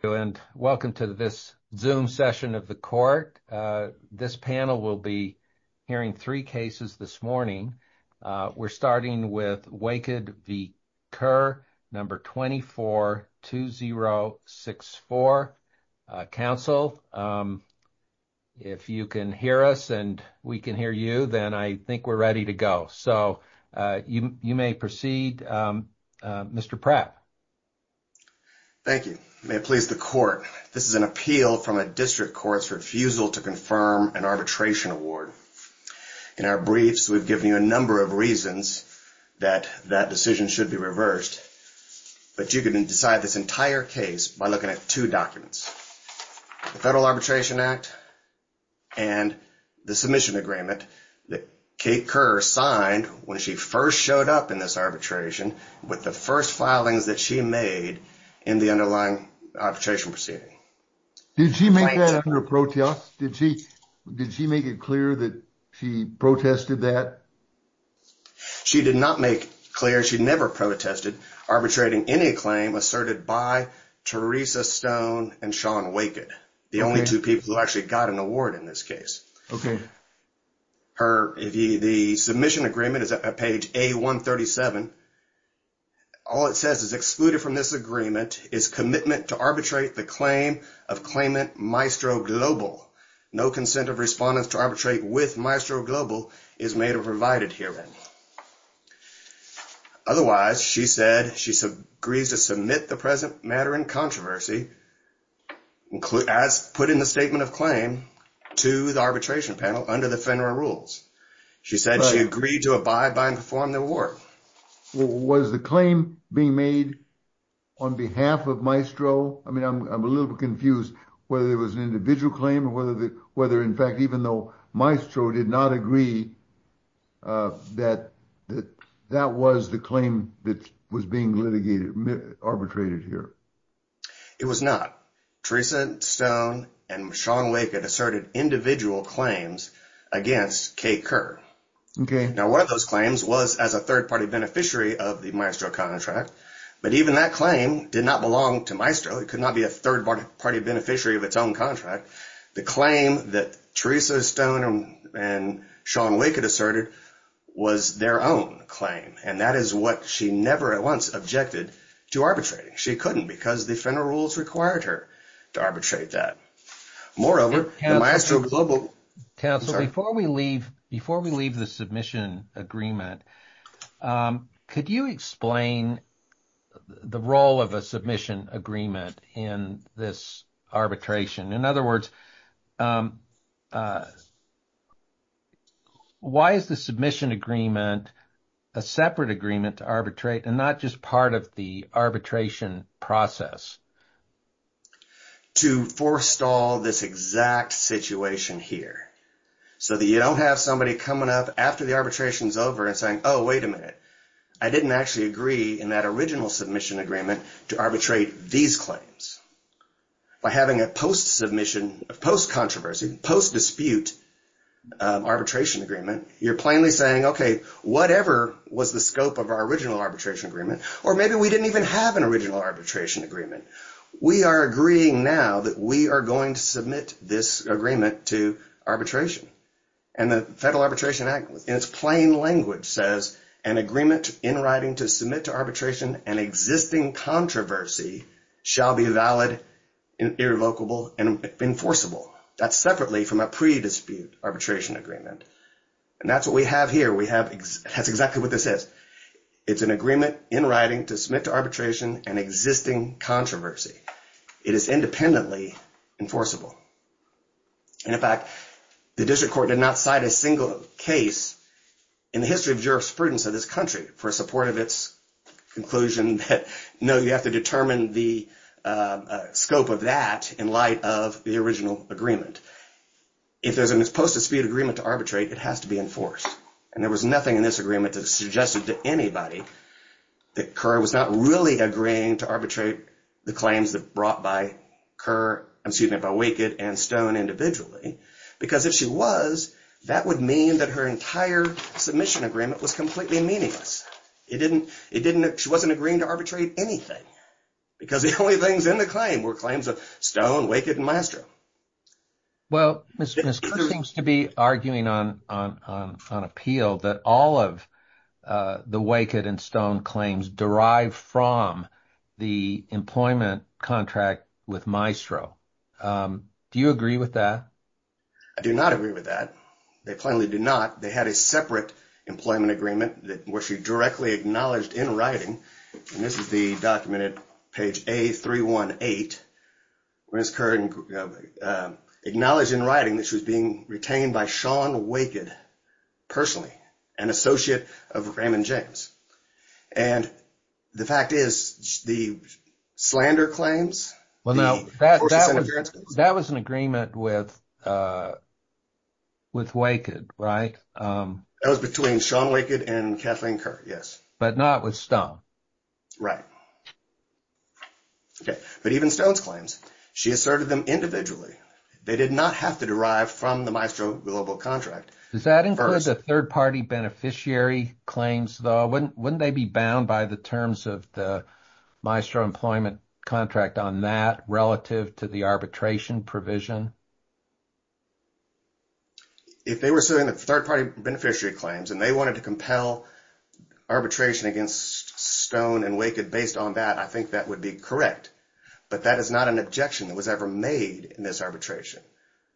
Hello and welcome to this Zoom session of the court. This panel will be hearing three cases this morning. We're starting with Waked v. Kerr, number 242064, counsel. If you can hear us and we can hear you, then I think we're ready to go. So you may proceed, Mr. Pratt. Thank you. May it please the court, this is an appeal from a district court's refusal to confirm an arbitration award. In our briefs, we've given you a number of reasons that that decision should be reversed, but you can decide this entire case by looking at two documents, the Federal Arbitration Act and the submission agreement that Kate Kerr signed when she first showed up in this arbitration, with the first filings that she made in the underlying arbitration proceeding. Did she make that in her protest? Did she make it clear that she protested that? She did not make clear, she never protested arbitrating any claim asserted by Teresa Stone and Sean Waked, the only two people who actually got an award in this case. The submission agreement is at page A137. All it says is excluded from this agreement is commitment to arbitrate the claim of claimant Maestro Global. No consent of respondents to arbitrate with Maestro Global is made or provided herein. Otherwise, she said she agrees to submit the present matter in controversy, as put in the submission of claim to the arbitration panel under the FINRA rules. She said she agreed to abide by and perform the award. Was the claim being made on behalf of Maestro? I mean, I'm a little confused whether it was an individual claim or whether in fact, even though Maestro did not agree that that was the claim that was being litigated, arbitrated here. It was not. It was not. Teresa Stone and Sean Waked asserted individual claims against Kate Kerr. Now, one of those claims was as a third-party beneficiary of the Maestro contract, but even that claim did not belong to Maestro. It could not be a third-party beneficiary of its own contract. The claim that Teresa Stone and Sean Waked asserted was their own claim, and that is what she never at once objected to arbitrating. She couldn't because the FINRA rules required her to arbitrate that. Moreover, Maestro was a little bit... Counsel, before we leave the submission agreement, could you explain the role of a submission agreement in this arbitration? In other words, why is the submission agreement a separate agreement to arbitrate and not just part of the arbitration process? To forestall this exact situation here so that you don't have somebody coming up after the arbitration is over and saying, oh, wait a minute, I didn't actually agree in that original submission agreement to arbitrate these claims. By having a post-submission, post-controversy, post-dispute arbitration agreement, you're plainly saying, okay, whatever was the scope of our original arbitration agreement, or maybe we didn't even have an original arbitration agreement. We are agreeing now that we are going to submit this agreement to arbitration. And the Federal Arbitration Act, in its plain language, says an agreement in writing to submit to arbitration an existing controversy shall be valid, irrevocable, and enforceable. That's separately from a pre-dispute arbitration agreement. And that's what we have here. We have exactly what this is. It's an agreement in writing to submit to arbitration an existing controversy. It is independently enforceable. And in fact, the district court did not cite a single case in the history of jurisprudence of this country for support of its conclusion that, no, you have to determine the scope of that in light of the original agreement. If there's a post-dispute agreement to arbitrate, it has to be enforced. And there was nothing in this agreement that suggested to anybody that Kerr was not really agreeing to arbitrate the claims brought by Wicked and Stone individually. Because if she was, that would mean that her entire submission agreement was completely meaningless. She wasn't agreeing to arbitrate anything, because the only things in the claim were claims of Stone, Wicked, and Maestro. Well, Ms. Kerr seems to be arguing on appeal that all of the Wicked and Stone claims derive from the employment contract with Maestro. Do you agree with that? I do not agree with that. They plainly do not. They had a separate employment agreement that she directly acknowledged in writing. And this is the document at page A318, where Ms. Kerr acknowledged in writing that she was being retained by Sean Wicked, personally, an associate of Raymond James. And the fact is, the slander claims, the portions of the transcripts. That was an agreement with Wicked, right? That was between Sean Wicked and Kathleen Kerr, yes. But not with Stone. Right. Okay. But even Stone's claims, she asserted them individually. They did not have to derive from the Maestro Global Contract. Does that include the third-party beneficiary claims, though? Wouldn't they be bound by the terms of the Maestro employment contract on that, relative to the arbitration provision? If they were suing the third-party beneficiary claims and they wanted to compel arbitration against Stone and Wicked based on that, I think that would be correct. But that is not an objection that was ever made in this arbitration.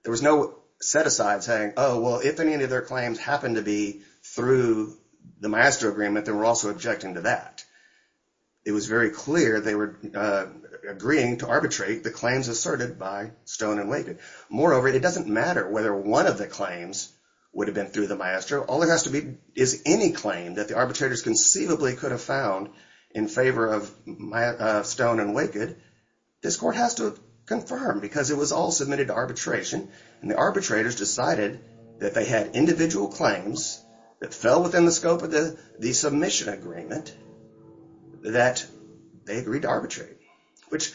There was no set-aside saying, oh, well, if any of their claims happen to be through the Maestro agreement, then we're also objecting to that. It was very clear they were agreeing to arbitrate the claims asserted by Stone and Wicked. Moreover, it doesn't matter whether one of the claims would have been through the Maestro. All there has to be is any claim that the arbitrators conceivably could have found in favor of Stone and Wicked. This court has to confirm, because it was all submitted to arbitration, and the arbitrators decided that they had individual claims that fell within the scope of the submission agreement that they agreed to arbitrate, which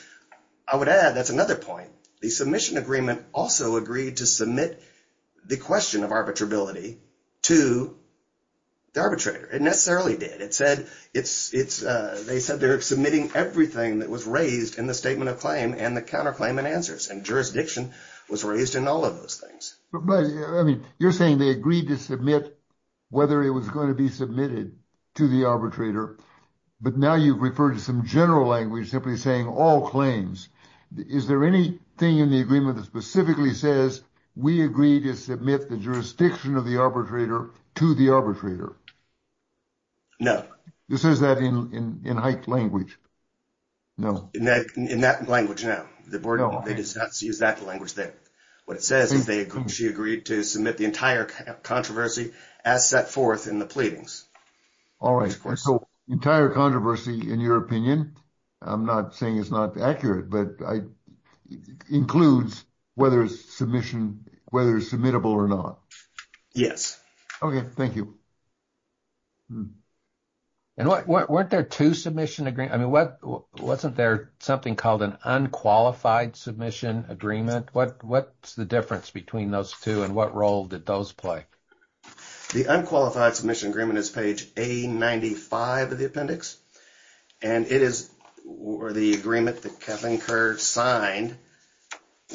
I would add, that's another point. The submission agreement also agreed to submit the question of arbitrability to the arbitrator. It necessarily did. They said they're submitting everything that was raised in the statement of claim and the claim and answers, and jurisdiction was raised in all of those things. But, I mean, you're saying they agreed to submit whether it was going to be submitted to the arbitrator, but now you've referred to some general language simply saying all claims. Is there anything in the agreement that specifically says, we agree to submit the jurisdiction of the arbitrator to the arbitrator? No. It says that in Hike language. No. In that language now. The board does not use that language there. What it says is that she agreed to submit the entire controversy as set forth in the pleadings. All right. So, entire controversy, in your opinion, I'm not saying it's not accurate, but includes whether it's submissible or not. Yes. Okay, thank you. And weren't there two submission agreements? I mean, wasn't there something called an unqualified submission agreement? What's the difference between those two, and what role did those play? The unqualified submission agreement is page A95 of the appendix, and it is the agreement that Kathleen Kerr signed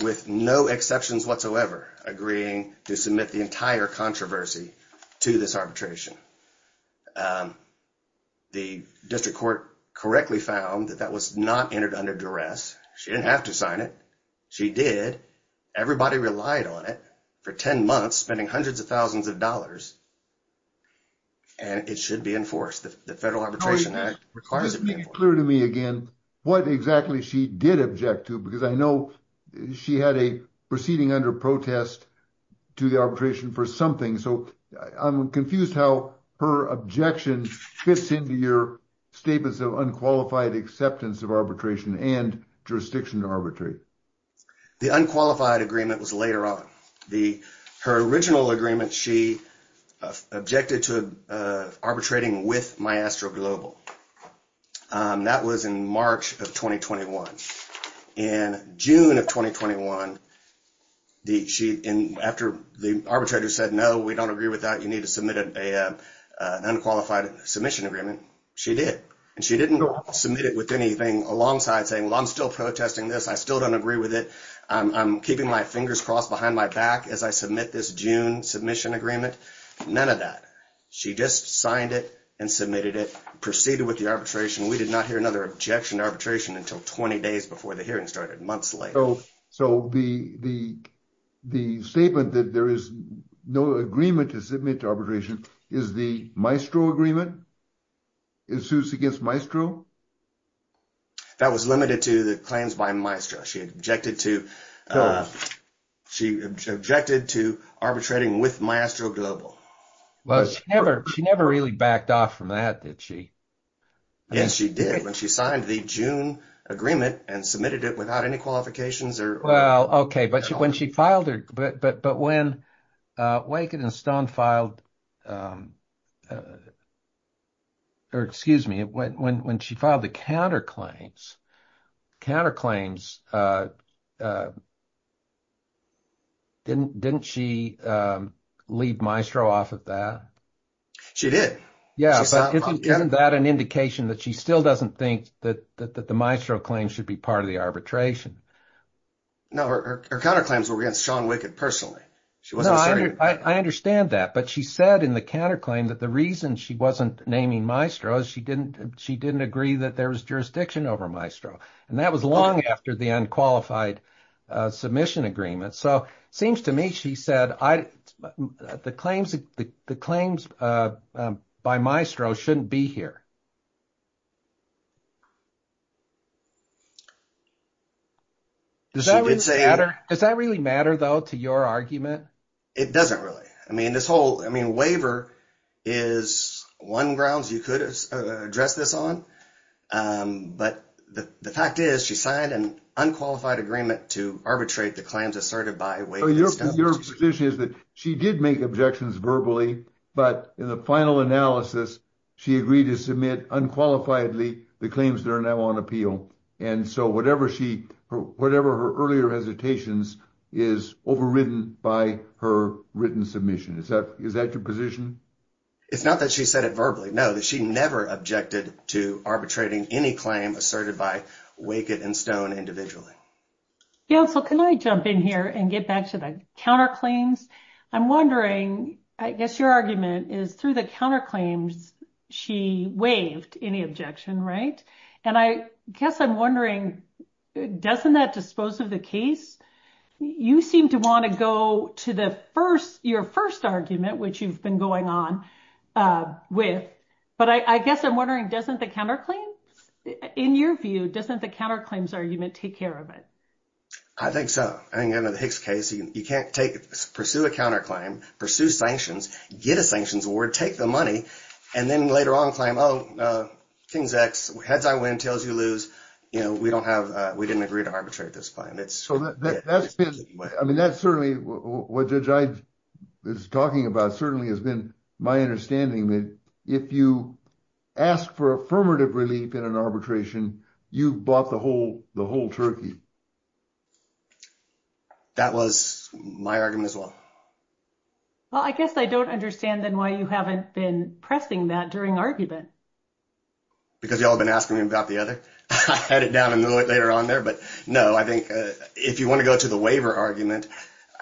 with no exceptions whatsoever agreeing to submit the entire controversy to this arbitration. The district court correctly found that that was not entered under duress. She didn't have to sign it. She did. Everybody relied on it for 10 months, spending hundreds of thousands of dollars, and it should be enforced. The Federal Arbitration Act requires it to be enforced. Just make it clear to me again what exactly she did object to, because I know she had a proceeding under protest to the arbitration for something. So, I'm confused how her objection fits into your statements of unqualified acceptance of arbitration and jurisdiction to arbitrate. The unqualified agreement was later on. Her original agreement, she objected to arbitrating with Maestro Global. That was in March of 2021. In June of 2021, after the arbitrator said, no, we don't agree with that, you need to submit an unqualified submission agreement, she did. She didn't submit it with anything alongside saying, well, I'm still protesting this. I still don't agree with it. I'm keeping my fingers crossed behind my back as I submit this June submission agreement. None of that. She just signed it and submitted it, proceeded with the arbitration. We did not hear another objection to arbitration until 20 days before the hearing started, months later. So, the statement that there is no agreement to submit to arbitration, is the Maestro agreement? It suits against Maestro? That was limited to the claims by Maestro. She objected to arbitrating with Maestro Global. Well, she never really backed off from that, did she? Yes, she did. When she signed the June agreement and submitted it without any qualifications or. Well, OK, but when she filed it, but when Waken and Stone filed, or excuse me, when she filed the counterclaims, counterclaims, didn't she leave Maestro off of that? She did. Yeah, but isn't that an indication that she still doesn't think that the Maestro claims should be part of the arbitration? No, her counterclaims were against Sean Wicked personally. She wasn't. I understand that, but she said in the counterclaim that the reason she wasn't naming Maestro is she didn't agree that there was jurisdiction over Maestro, and that was long after the unqualified submission agreement. So it seems to me, she said, the claims by Maestro shouldn't be here. Does that really matter, though, to your argument? It doesn't really. I mean, this whole waiver is one grounds you could address this on, but the fact is she signed an unqualified agreement to arbitrate the claims asserted by Waken and Stone. So your position is that she did make objections verbally, but in the final analysis, she agreed to submit unqualifiedly the claims that are now on appeal, and so whatever her earlier hesitations is overridden by her written submission. Is that your position? It's not that she said it verbally. No, that she never objected to arbitrating any claim asserted by Wicked and Stone individually. Counsel, can I jump in here and get back to the counterclaims? I'm wondering, I guess your argument is through the counterclaims, she waived any objection, right? And I guess I'm wondering, doesn't that dispose of the case? You seem to want to go to your first argument, which you've been going on with, but I guess I'm wondering, doesn't the counterclaims, in your view, doesn't the counterclaims argument take care of it? I think so. I think under the Hicks case, you can't pursue a counterclaim, pursue sanctions, get a sanctions award, take the money, and then later on claim, oh, King's X, heads I win, tails you lose. We didn't agree to arbitrate this claim. So that's been, I mean, that's certainly, what Judge Ide is talking about certainly has been my understanding that if you ask for affirmative relief in an arbitration, you bought the whole turkey. That was my argument as well. Well, I guess I don't understand then why you haven't been pressing that during argument. Because you all have been asking me about the other, I had it down a little bit later on there, but no, I think if you want to go to the waiver argument,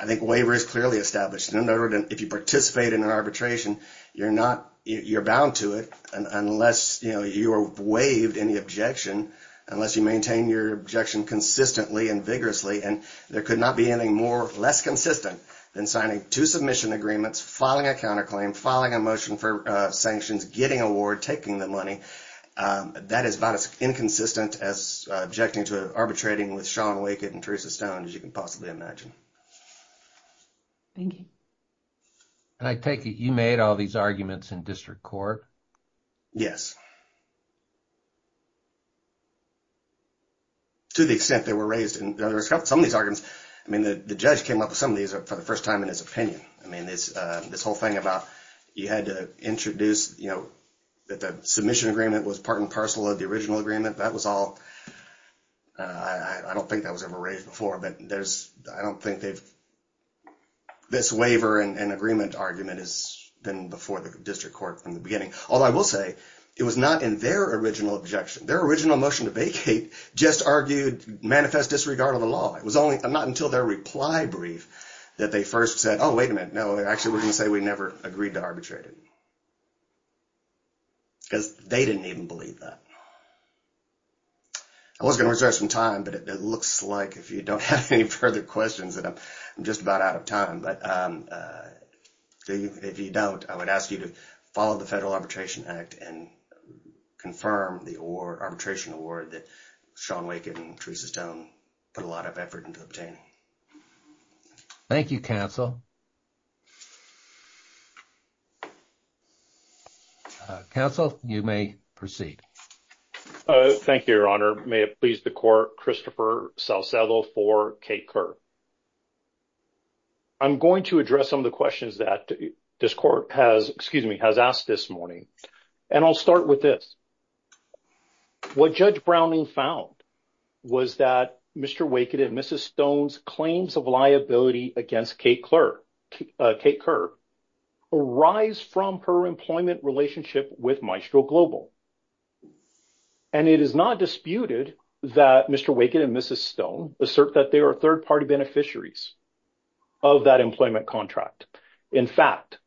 I think waiver is clearly established. In other words, if you participate in an arbitration, you're not, you're bound to it unless you are waived any objection, unless you maintain your objection consistently and vigorously, and there could not be anything more, less consistent than signing two submission agreements, filing a counterclaim, filing a motion for sanctions, getting award, taking the money. That is about as inconsistent as objecting to arbitrating with Sean Wakett and Teresa Stone, as you can possibly imagine. Thank you. And I take it, you made all these arguments in district court. Yes. To the extent they were raised, and there are some of these arguments, I mean, the judge came up with some of these for the first time in his opinion. I mean, this whole thing about you had to introduce that the submission agreement was part and parcel of the original agreement, that was all, I don't think that was ever raised before, but there's, I don't think they've, this waiver and agreement argument has been before the district court from the beginning. Although I will say, it was not in their original objection. Their original motion to vacate just argued manifest disregard of the law. It was only, not until their reply brief that they first said, oh, wait a minute, no, actually we're going to say we never agreed to arbitrate it. Because they didn't even believe that. I was going to reserve some time, but it looks like if you don't have any further questions, that I'm just about out of time. But if you don't, I would ask you to follow the Federal Arbitration Act and confirm the award, arbitration award that Shawn Wake and Teresa Stone put a lot of effort into obtaining. Thank you, counsel. Counsel, you may proceed. Thank you, your honor. May it please the court, Christopher Salcedo for Kate Kerr. I'm going to address some of the questions that this court has, excuse me, has asked this morning. And I'll start with this. What Judge Browning found was that Mr. Wake and Mrs. Stone's claims of liability against Kate Kerr arise from her employment relationship with Maestro Global. And it is not disputed that Mr. Wake and Mrs. Stone assert that they are a third party beneficiaries of that employment contract. In fact,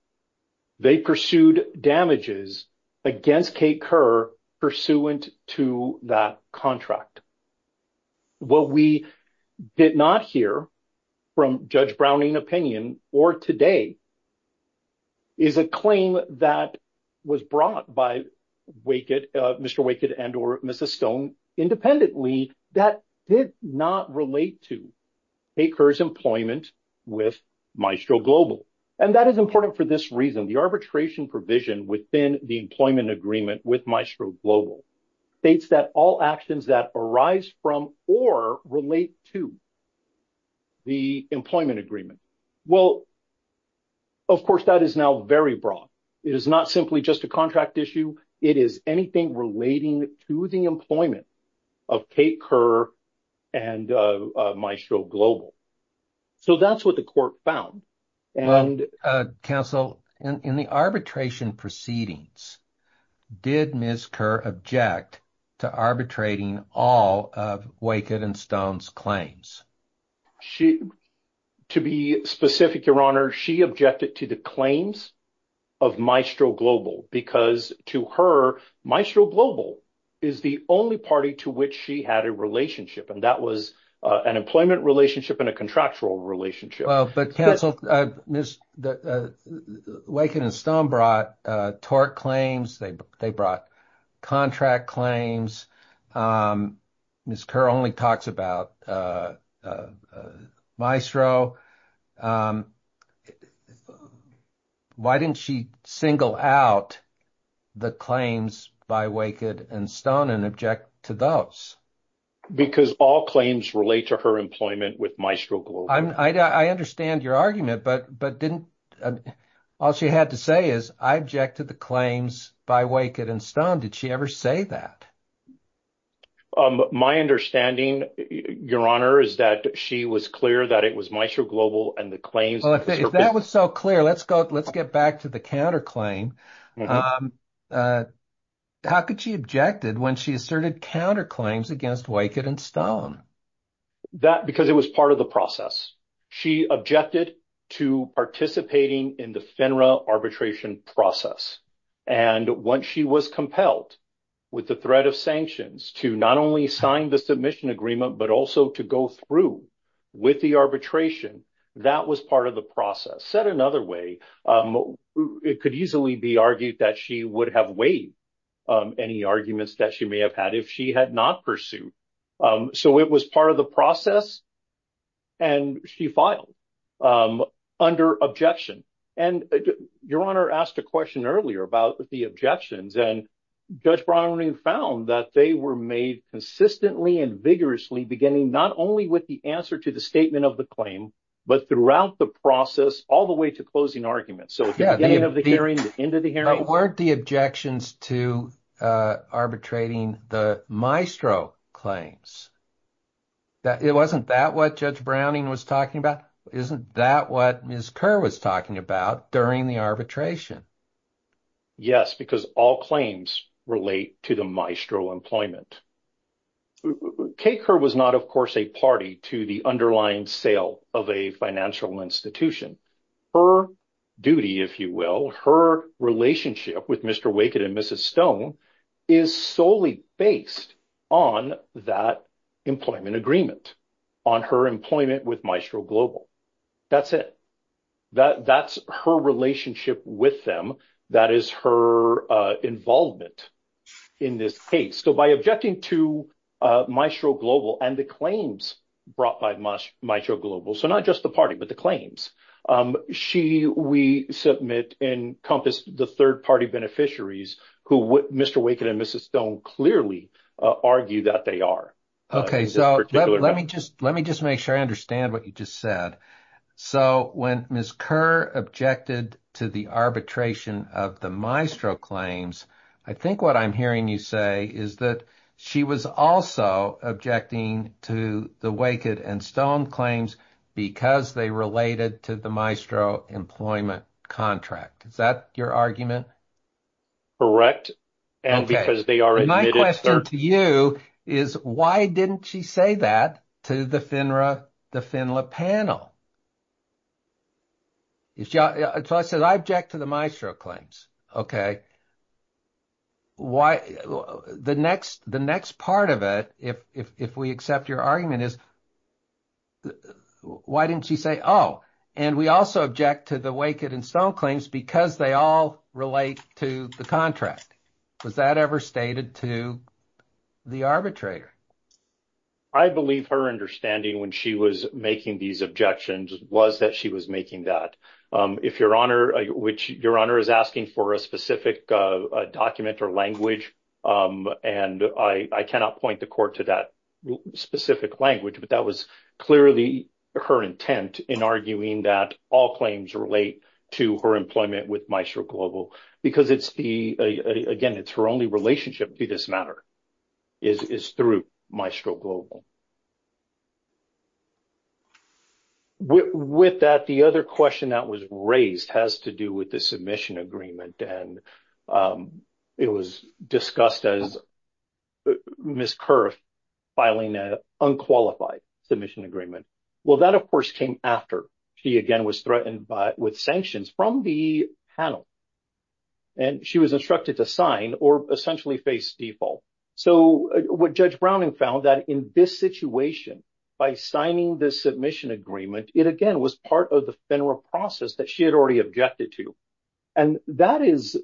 they pursued damages against Kate Kerr pursuant to that contract. What we did not hear from Judge Browning opinion or today is a claim that was brought by Wake that did not relate to Kate Kerr's employment with Maestro Global. And that is important for this reason, the arbitration provision within the employment agreement with Maestro Global states that all actions that arise from or relate to the employment agreement. Well, of course, that is now very broad. It is not simply just a contract issue. It is anything relating to the employment of Kate Kerr and Maestro Global. So that's what the court found. And counsel, in the arbitration proceedings, did Ms. Kerr object to arbitrating all of Wake and Stone's claims? She, to be specific, Your Honor, she objected to the claims of Maestro Global because to her, Maestro Global is the only party to which she had a relationship. And that was an employment relationship and a contractual relationship. But counsel, Wake and Stone brought tort claims, they brought contract claims. Ms. Kerr only talks about Maestro. Why didn't she single out the claims by Wake and Stone and object to those? Because all claims relate to her employment with Maestro Global. I understand your argument, but didn't all she had to say is I object to the claims by Wake and Stone. Did she ever say that? Um, my understanding, Your Honor, is that she was clear that it was Maestro Global and the claims. Well, if that was so clear, let's go, let's get back to the counterclaim. How could she objected when she asserted counterclaims against Wake and Stone? That because it was part of the process. She objected to participating in the FINRA arbitration process. And once she was compelled with the threat of sanctions to not only sign the submission agreement, but also to go through with the arbitration, that was part of the process. Said another way, it could easily be argued that she would have waived any arguments that she may have had if she had not pursued. So it was part of the process. And she filed under objection. And Your Honor asked a question earlier about the objections and Judge Browning found that they were made consistently and vigorously, beginning not only with the answer to the statement of the claim, but throughout the process, all the way to closing arguments. So at the beginning of the hearing, the end of the hearing. Weren't the objections to arbitrating the Maestro claims? It wasn't that what Judge Browning was talking about? Isn't that what Ms. Kerr was talking about during the arbitration? Yes, because all claims relate to the Maestro employment. Kay Kerr was not, of course, a party to the underlying sale of a financial institution. Her duty, if you will, her relationship with Mr. Wake and Mrs. Stone is solely based on that employment agreement, on her employment with Maestro Global. That's it. That's her relationship with them. That is her involvement in this case. So by objecting to Maestro Global and the claims brought by Maestro Global. So not just the party, but the claims. She, we submit, encompassed the third party beneficiaries who Mr. Wake and Mrs. Stone clearly argue that they are. OK, so let me just let me just make sure I understand what you just said. So when Ms. Kerr objected to the arbitration of the Maestro claims, I think what I'm hearing you say is that she was also objecting to the Wake and Stone claims because they related to the Maestro employment contract. Is that your argument? Correct. And because they are. And my question to you is, why didn't she say that to the FINRA, the FINLA panel? So I said I object to the Maestro claims. Why? The next the next part of it, if we accept your argument is. Why didn't she say, oh, and we also object to the Wake and Stone claims because they all relate to the contract. Was that ever stated to the arbitrator? I believe her understanding when she was making these objections was that she was making that if your honor, which your honor is asking for a specific document or language. And I cannot point the court to that specific language, but that was clearly her intent in arguing that all claims relate to her employment with Maestro Global because it's the again, it's her only relationship to this matter is through Maestro Global. With that, the other question that was raised has to do with the submission agreement, and it was discussed as Ms. Kerr filing an unqualified submission agreement. Well, that, of course, came after she again was threatened with sanctions from the panel. And she was instructed to sign or essentially face default. So what Judge Browning found that in this situation, by signing the submission agreement, it again was part of the FINRA process that she had already objected to. And that is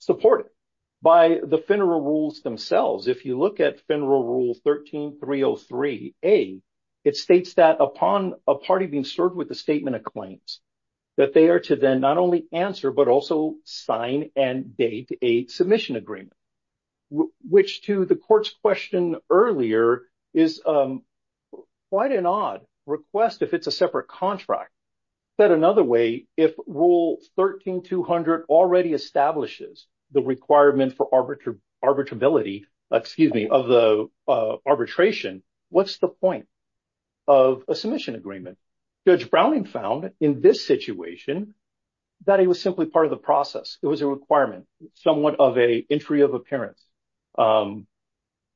supported by the FINRA rules themselves. If you look at FINRA rule 13-303A, it states that upon a party being served with a statement of claims that they are to then not only answer, but also sign and date a submission agreement, which to the court's question earlier is quite an odd request if it's a separate contract. Said another way, if rule 13-200 already establishes the requirement for arbitrability, excuse me, of the arbitration, what's the point of a submission agreement? Judge Browning found in this situation that it was simply part of the process. It was a requirement, somewhat of a entry of appearance for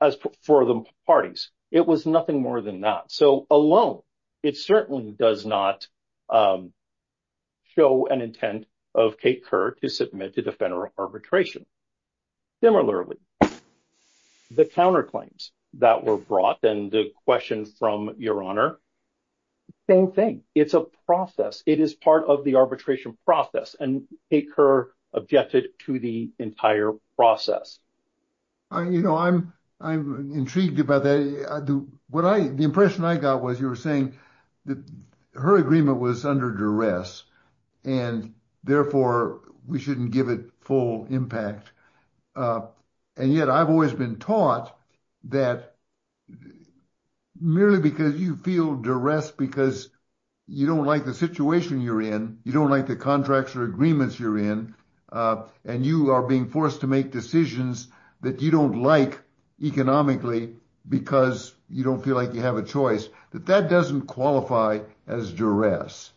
the parties. It was nothing more than that. So alone, it certainly does not show an intent of Kate Kerr to submit to the FINRA arbitration. Similarly, the counterclaims that were brought and the question from Your Honor, same thing. It's a process. It is part of the arbitration process. And Kate Kerr objected to the entire process. You know, I'm intrigued about that. The impression I got was you were saying that her agreement was under duress. And therefore, we shouldn't give it full impact. And yet I've always been taught that merely because you feel duress because you don't like the situation you're in, you don't like the contracts or agreements you're in, and you are being forced to make decisions that you don't like economically because you don't feel like you have a choice, that that doesn't qualify as duress.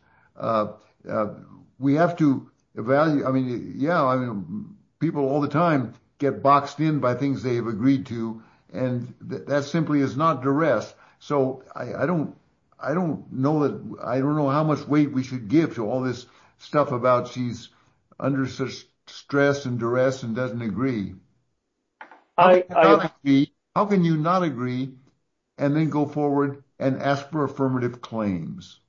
We have to evaluate. I mean, yeah, I mean, people all the time get boxed in by things they've agreed to. And that simply is not duress. So I don't know that I don't know how much weight we should give to all this stuff about she's under stress and duress and doesn't agree. I agree. How can you not agree and then go forward and ask for affirmative claims?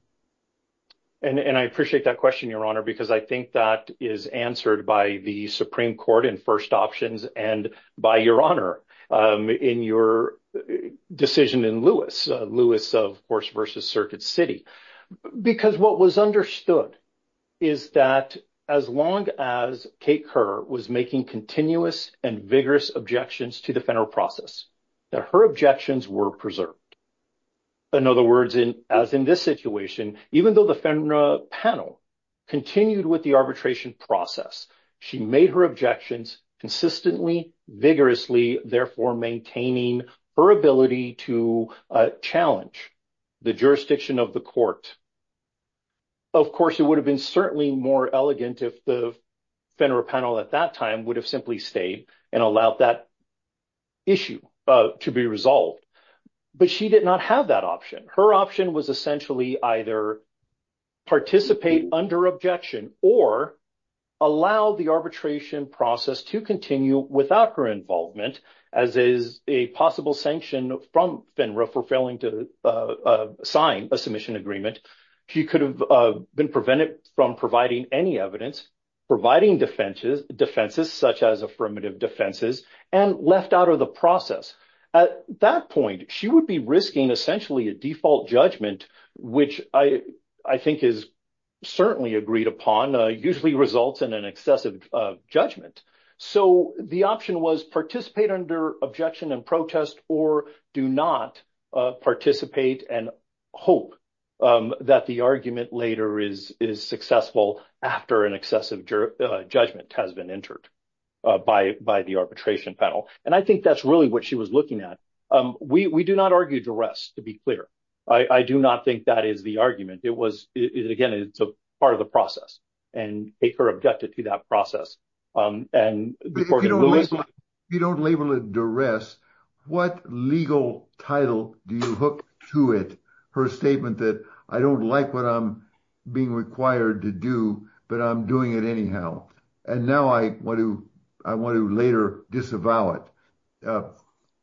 And I appreciate that question, Your Honor, because I think that is answered by the Supreme Court in first options and by Your Honor in your decision in Lewis, Lewis, of course, versus Circuit City, because what was understood is that as long as Kate Kerr was making continuous and vigorous objections to the FENRA process, that her objections were preserved. In other words, as in this situation, even though the FENRA panel continued with the arbitration process, she made her objections consistently, vigorously, therefore maintaining her ability to challenge the jurisdiction of the court. Of course, it would have been certainly more elegant if the FENRA panel at that time would have simply stayed and allowed that issue to be resolved. But she did not have that option. Her option was essentially either participate under objection or allow the arbitration process to continue without her involvement, as is a possible sanction from FENRA for failing to sign a submission agreement. She could have been prevented from providing any evidence, providing defenses, such as affirmative defenses, and left out of the process. At that point, she would be risking essentially a default judgment, which I think is certainly agreed upon, usually results in an excessive judgment. So the option was participate under objection and protest or do not participate and hope that the argument later is successful after an excessive judgment has been entered by the arbitration panel. And I think that's really what she was looking at. We do not argue duress, to be clear. I do not think that is the argument. Again, it's a part of the process. And Aker objected to that process. And before you don't label it duress, what legal title do you hook to it for a statement that I don't like what I'm being required to do, but I'm doing it anyhow. And now I want to later disavow it. Now,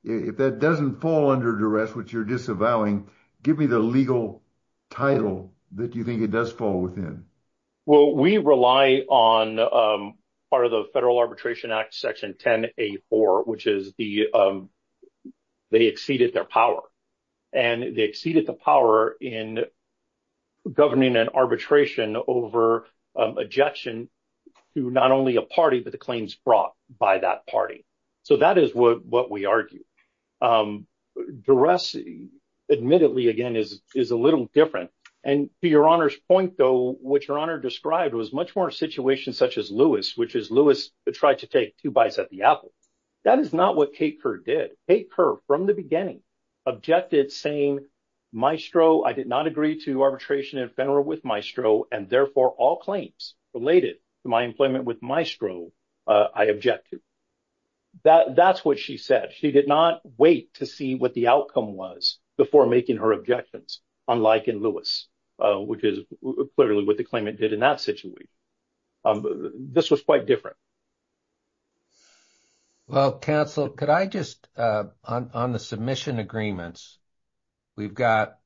if that doesn't fall under duress, which you're disavowing, give me the legal title that you think it does fall within. Well, we rely on part of the Federal Arbitration Act, Section 10A4, which is they exceeded their power. And they exceeded the power in governing an arbitration over objection to not only a party, but the claims brought by that party. So that is what we argue. Duress, admittedly, again, is a little different. And to Your Honor's point, though, what Your Honor described was much more a situation such as Lewis, which is Lewis tried to take two bites at the apple. That is not what Kate Kerr did. Kate Kerr, from the beginning, objected, saying, maestro, I did not agree to arbitration in federal with maestro, and therefore all claims related to my employment with maestro, I object to. That's what she said. She did not wait to see what the outcome was before making her objections, unlike in Lewis, which is clearly what the claimant did in that situation. This was quite different. Well, counsel, could I just, on the submission agreements, we've got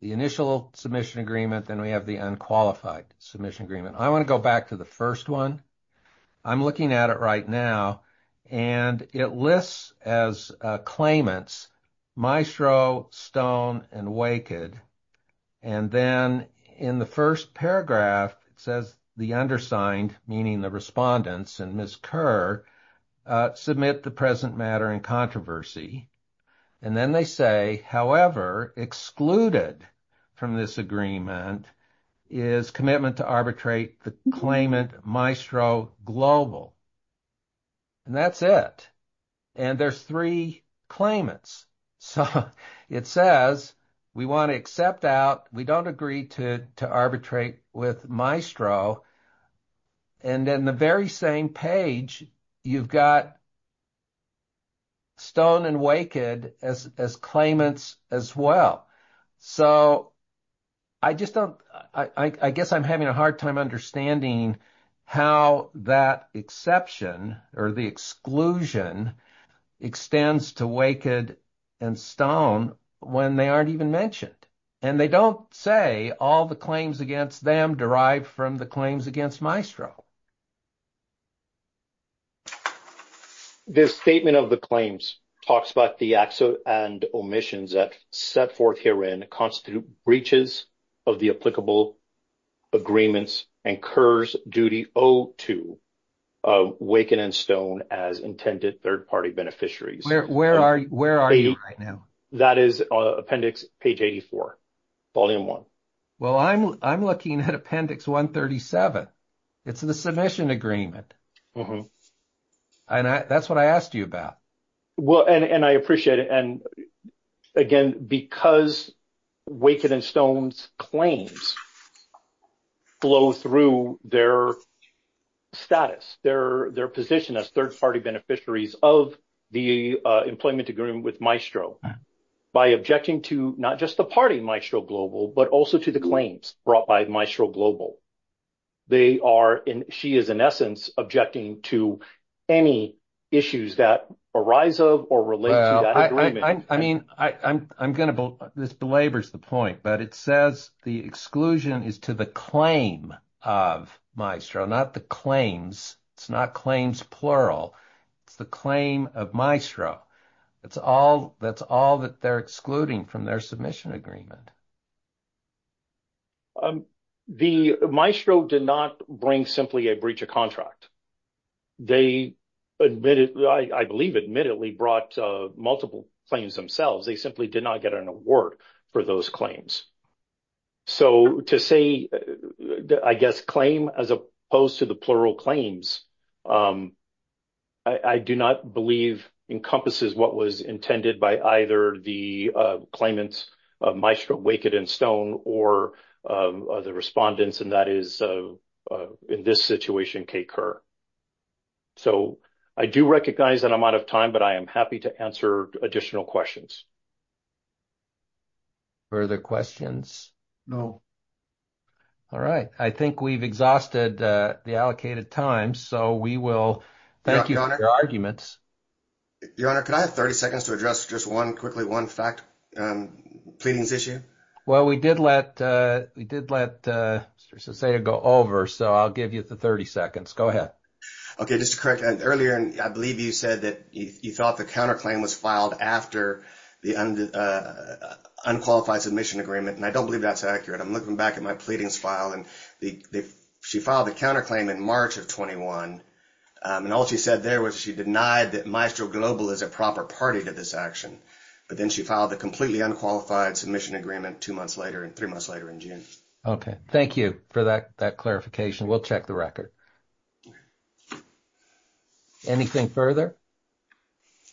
the initial submission agreement, then we have the unqualified submission agreement. I want to go back to the first one. I'm looking at it right now, and it lists as claimants maestro, Stone, and Waked. And then in the first paragraph, it says the undersigned, meaning the respondents, and Ms. Kerr, submit the present matter in controversy. And then they say, however, excluded from this agreement is commitment to arbitrate the claimant maestro global. And that's it. And there's three claimants. So it says, we want to accept out, we don't agree to arbitrate with maestro. And then the very same page, you've got Stone and Waked as claimants as well. So I just don't, I guess I'm having a hard time understanding how that exception or the exclusion extends to Waked and Stone when they aren't even mentioned. And they don't say all the claims against them derived from the claims against maestro. This statement of the claims talks about the acts and omissions that set forth herein constitute breaches of the applicable agreements and Kerr's duty owed to Waked and Stone as intended third-party beneficiaries. Where are you right now? That is appendix page 84, volume one. Well, I'm looking at appendix 137. It's the submission agreement. And that's what I asked you about. Well, and I appreciate it. And again, because Waked and Stone's claims flow through their status, their position as third-party beneficiaries of the employment agreement with maestro by objecting to not just the party maestro global, but also to the claims brought by maestro global. They are, and she is in essence, objecting to any issues that arise of or relate to that agreement. I mean, I'm going to, this belabors the point, but it says the exclusion is to the claim of maestro, not the claims. It's not claims plural. It's the claim of maestro. That's all that they're excluding from their submission agreement. The maestro did not bring simply a breach of contract. They admitted, I believe, admittedly brought multiple claims themselves. They simply did not get an award for those claims. So to say, I guess, claim as opposed to the plural claims, I do not believe encompasses what was intended by either the claimants of maestro Waked and Stone or the respondents. And that is in this situation, Kay Kerr. So I do recognize that I'm out of time, but I am happy to answer additional questions. Further questions? No. All right. I think we've exhausted the allocated time. So we will thank you for your arguments. Your Honor, could I have 30 seconds to address just one quickly, one fact, pleadings issue? Well, we did let, we did let Mr. Seseda go over. So I'll give you the 30 seconds. Go ahead. Okay. Just to correct earlier, and I believe you said that you thought the counterclaim was filed after the unqualified submission agreement. And I don't believe that's accurate. I'm looking back at my pleadings file and the, she filed the counterclaim in March of 2021. And all she said there was she denied that Maestro Global is a proper party to this action. But then she filed a completely unqualified submission agreement two months later and three months later in June. Okay. Thank you for that clarification. We'll check the record. Anything further?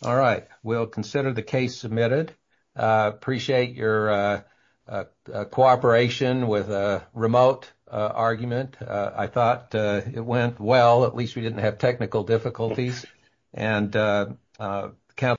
All right. We'll consider the case submitted. Appreciate your cooperation with a remote argument. I thought it went well. At least we didn't have technical difficulties. And.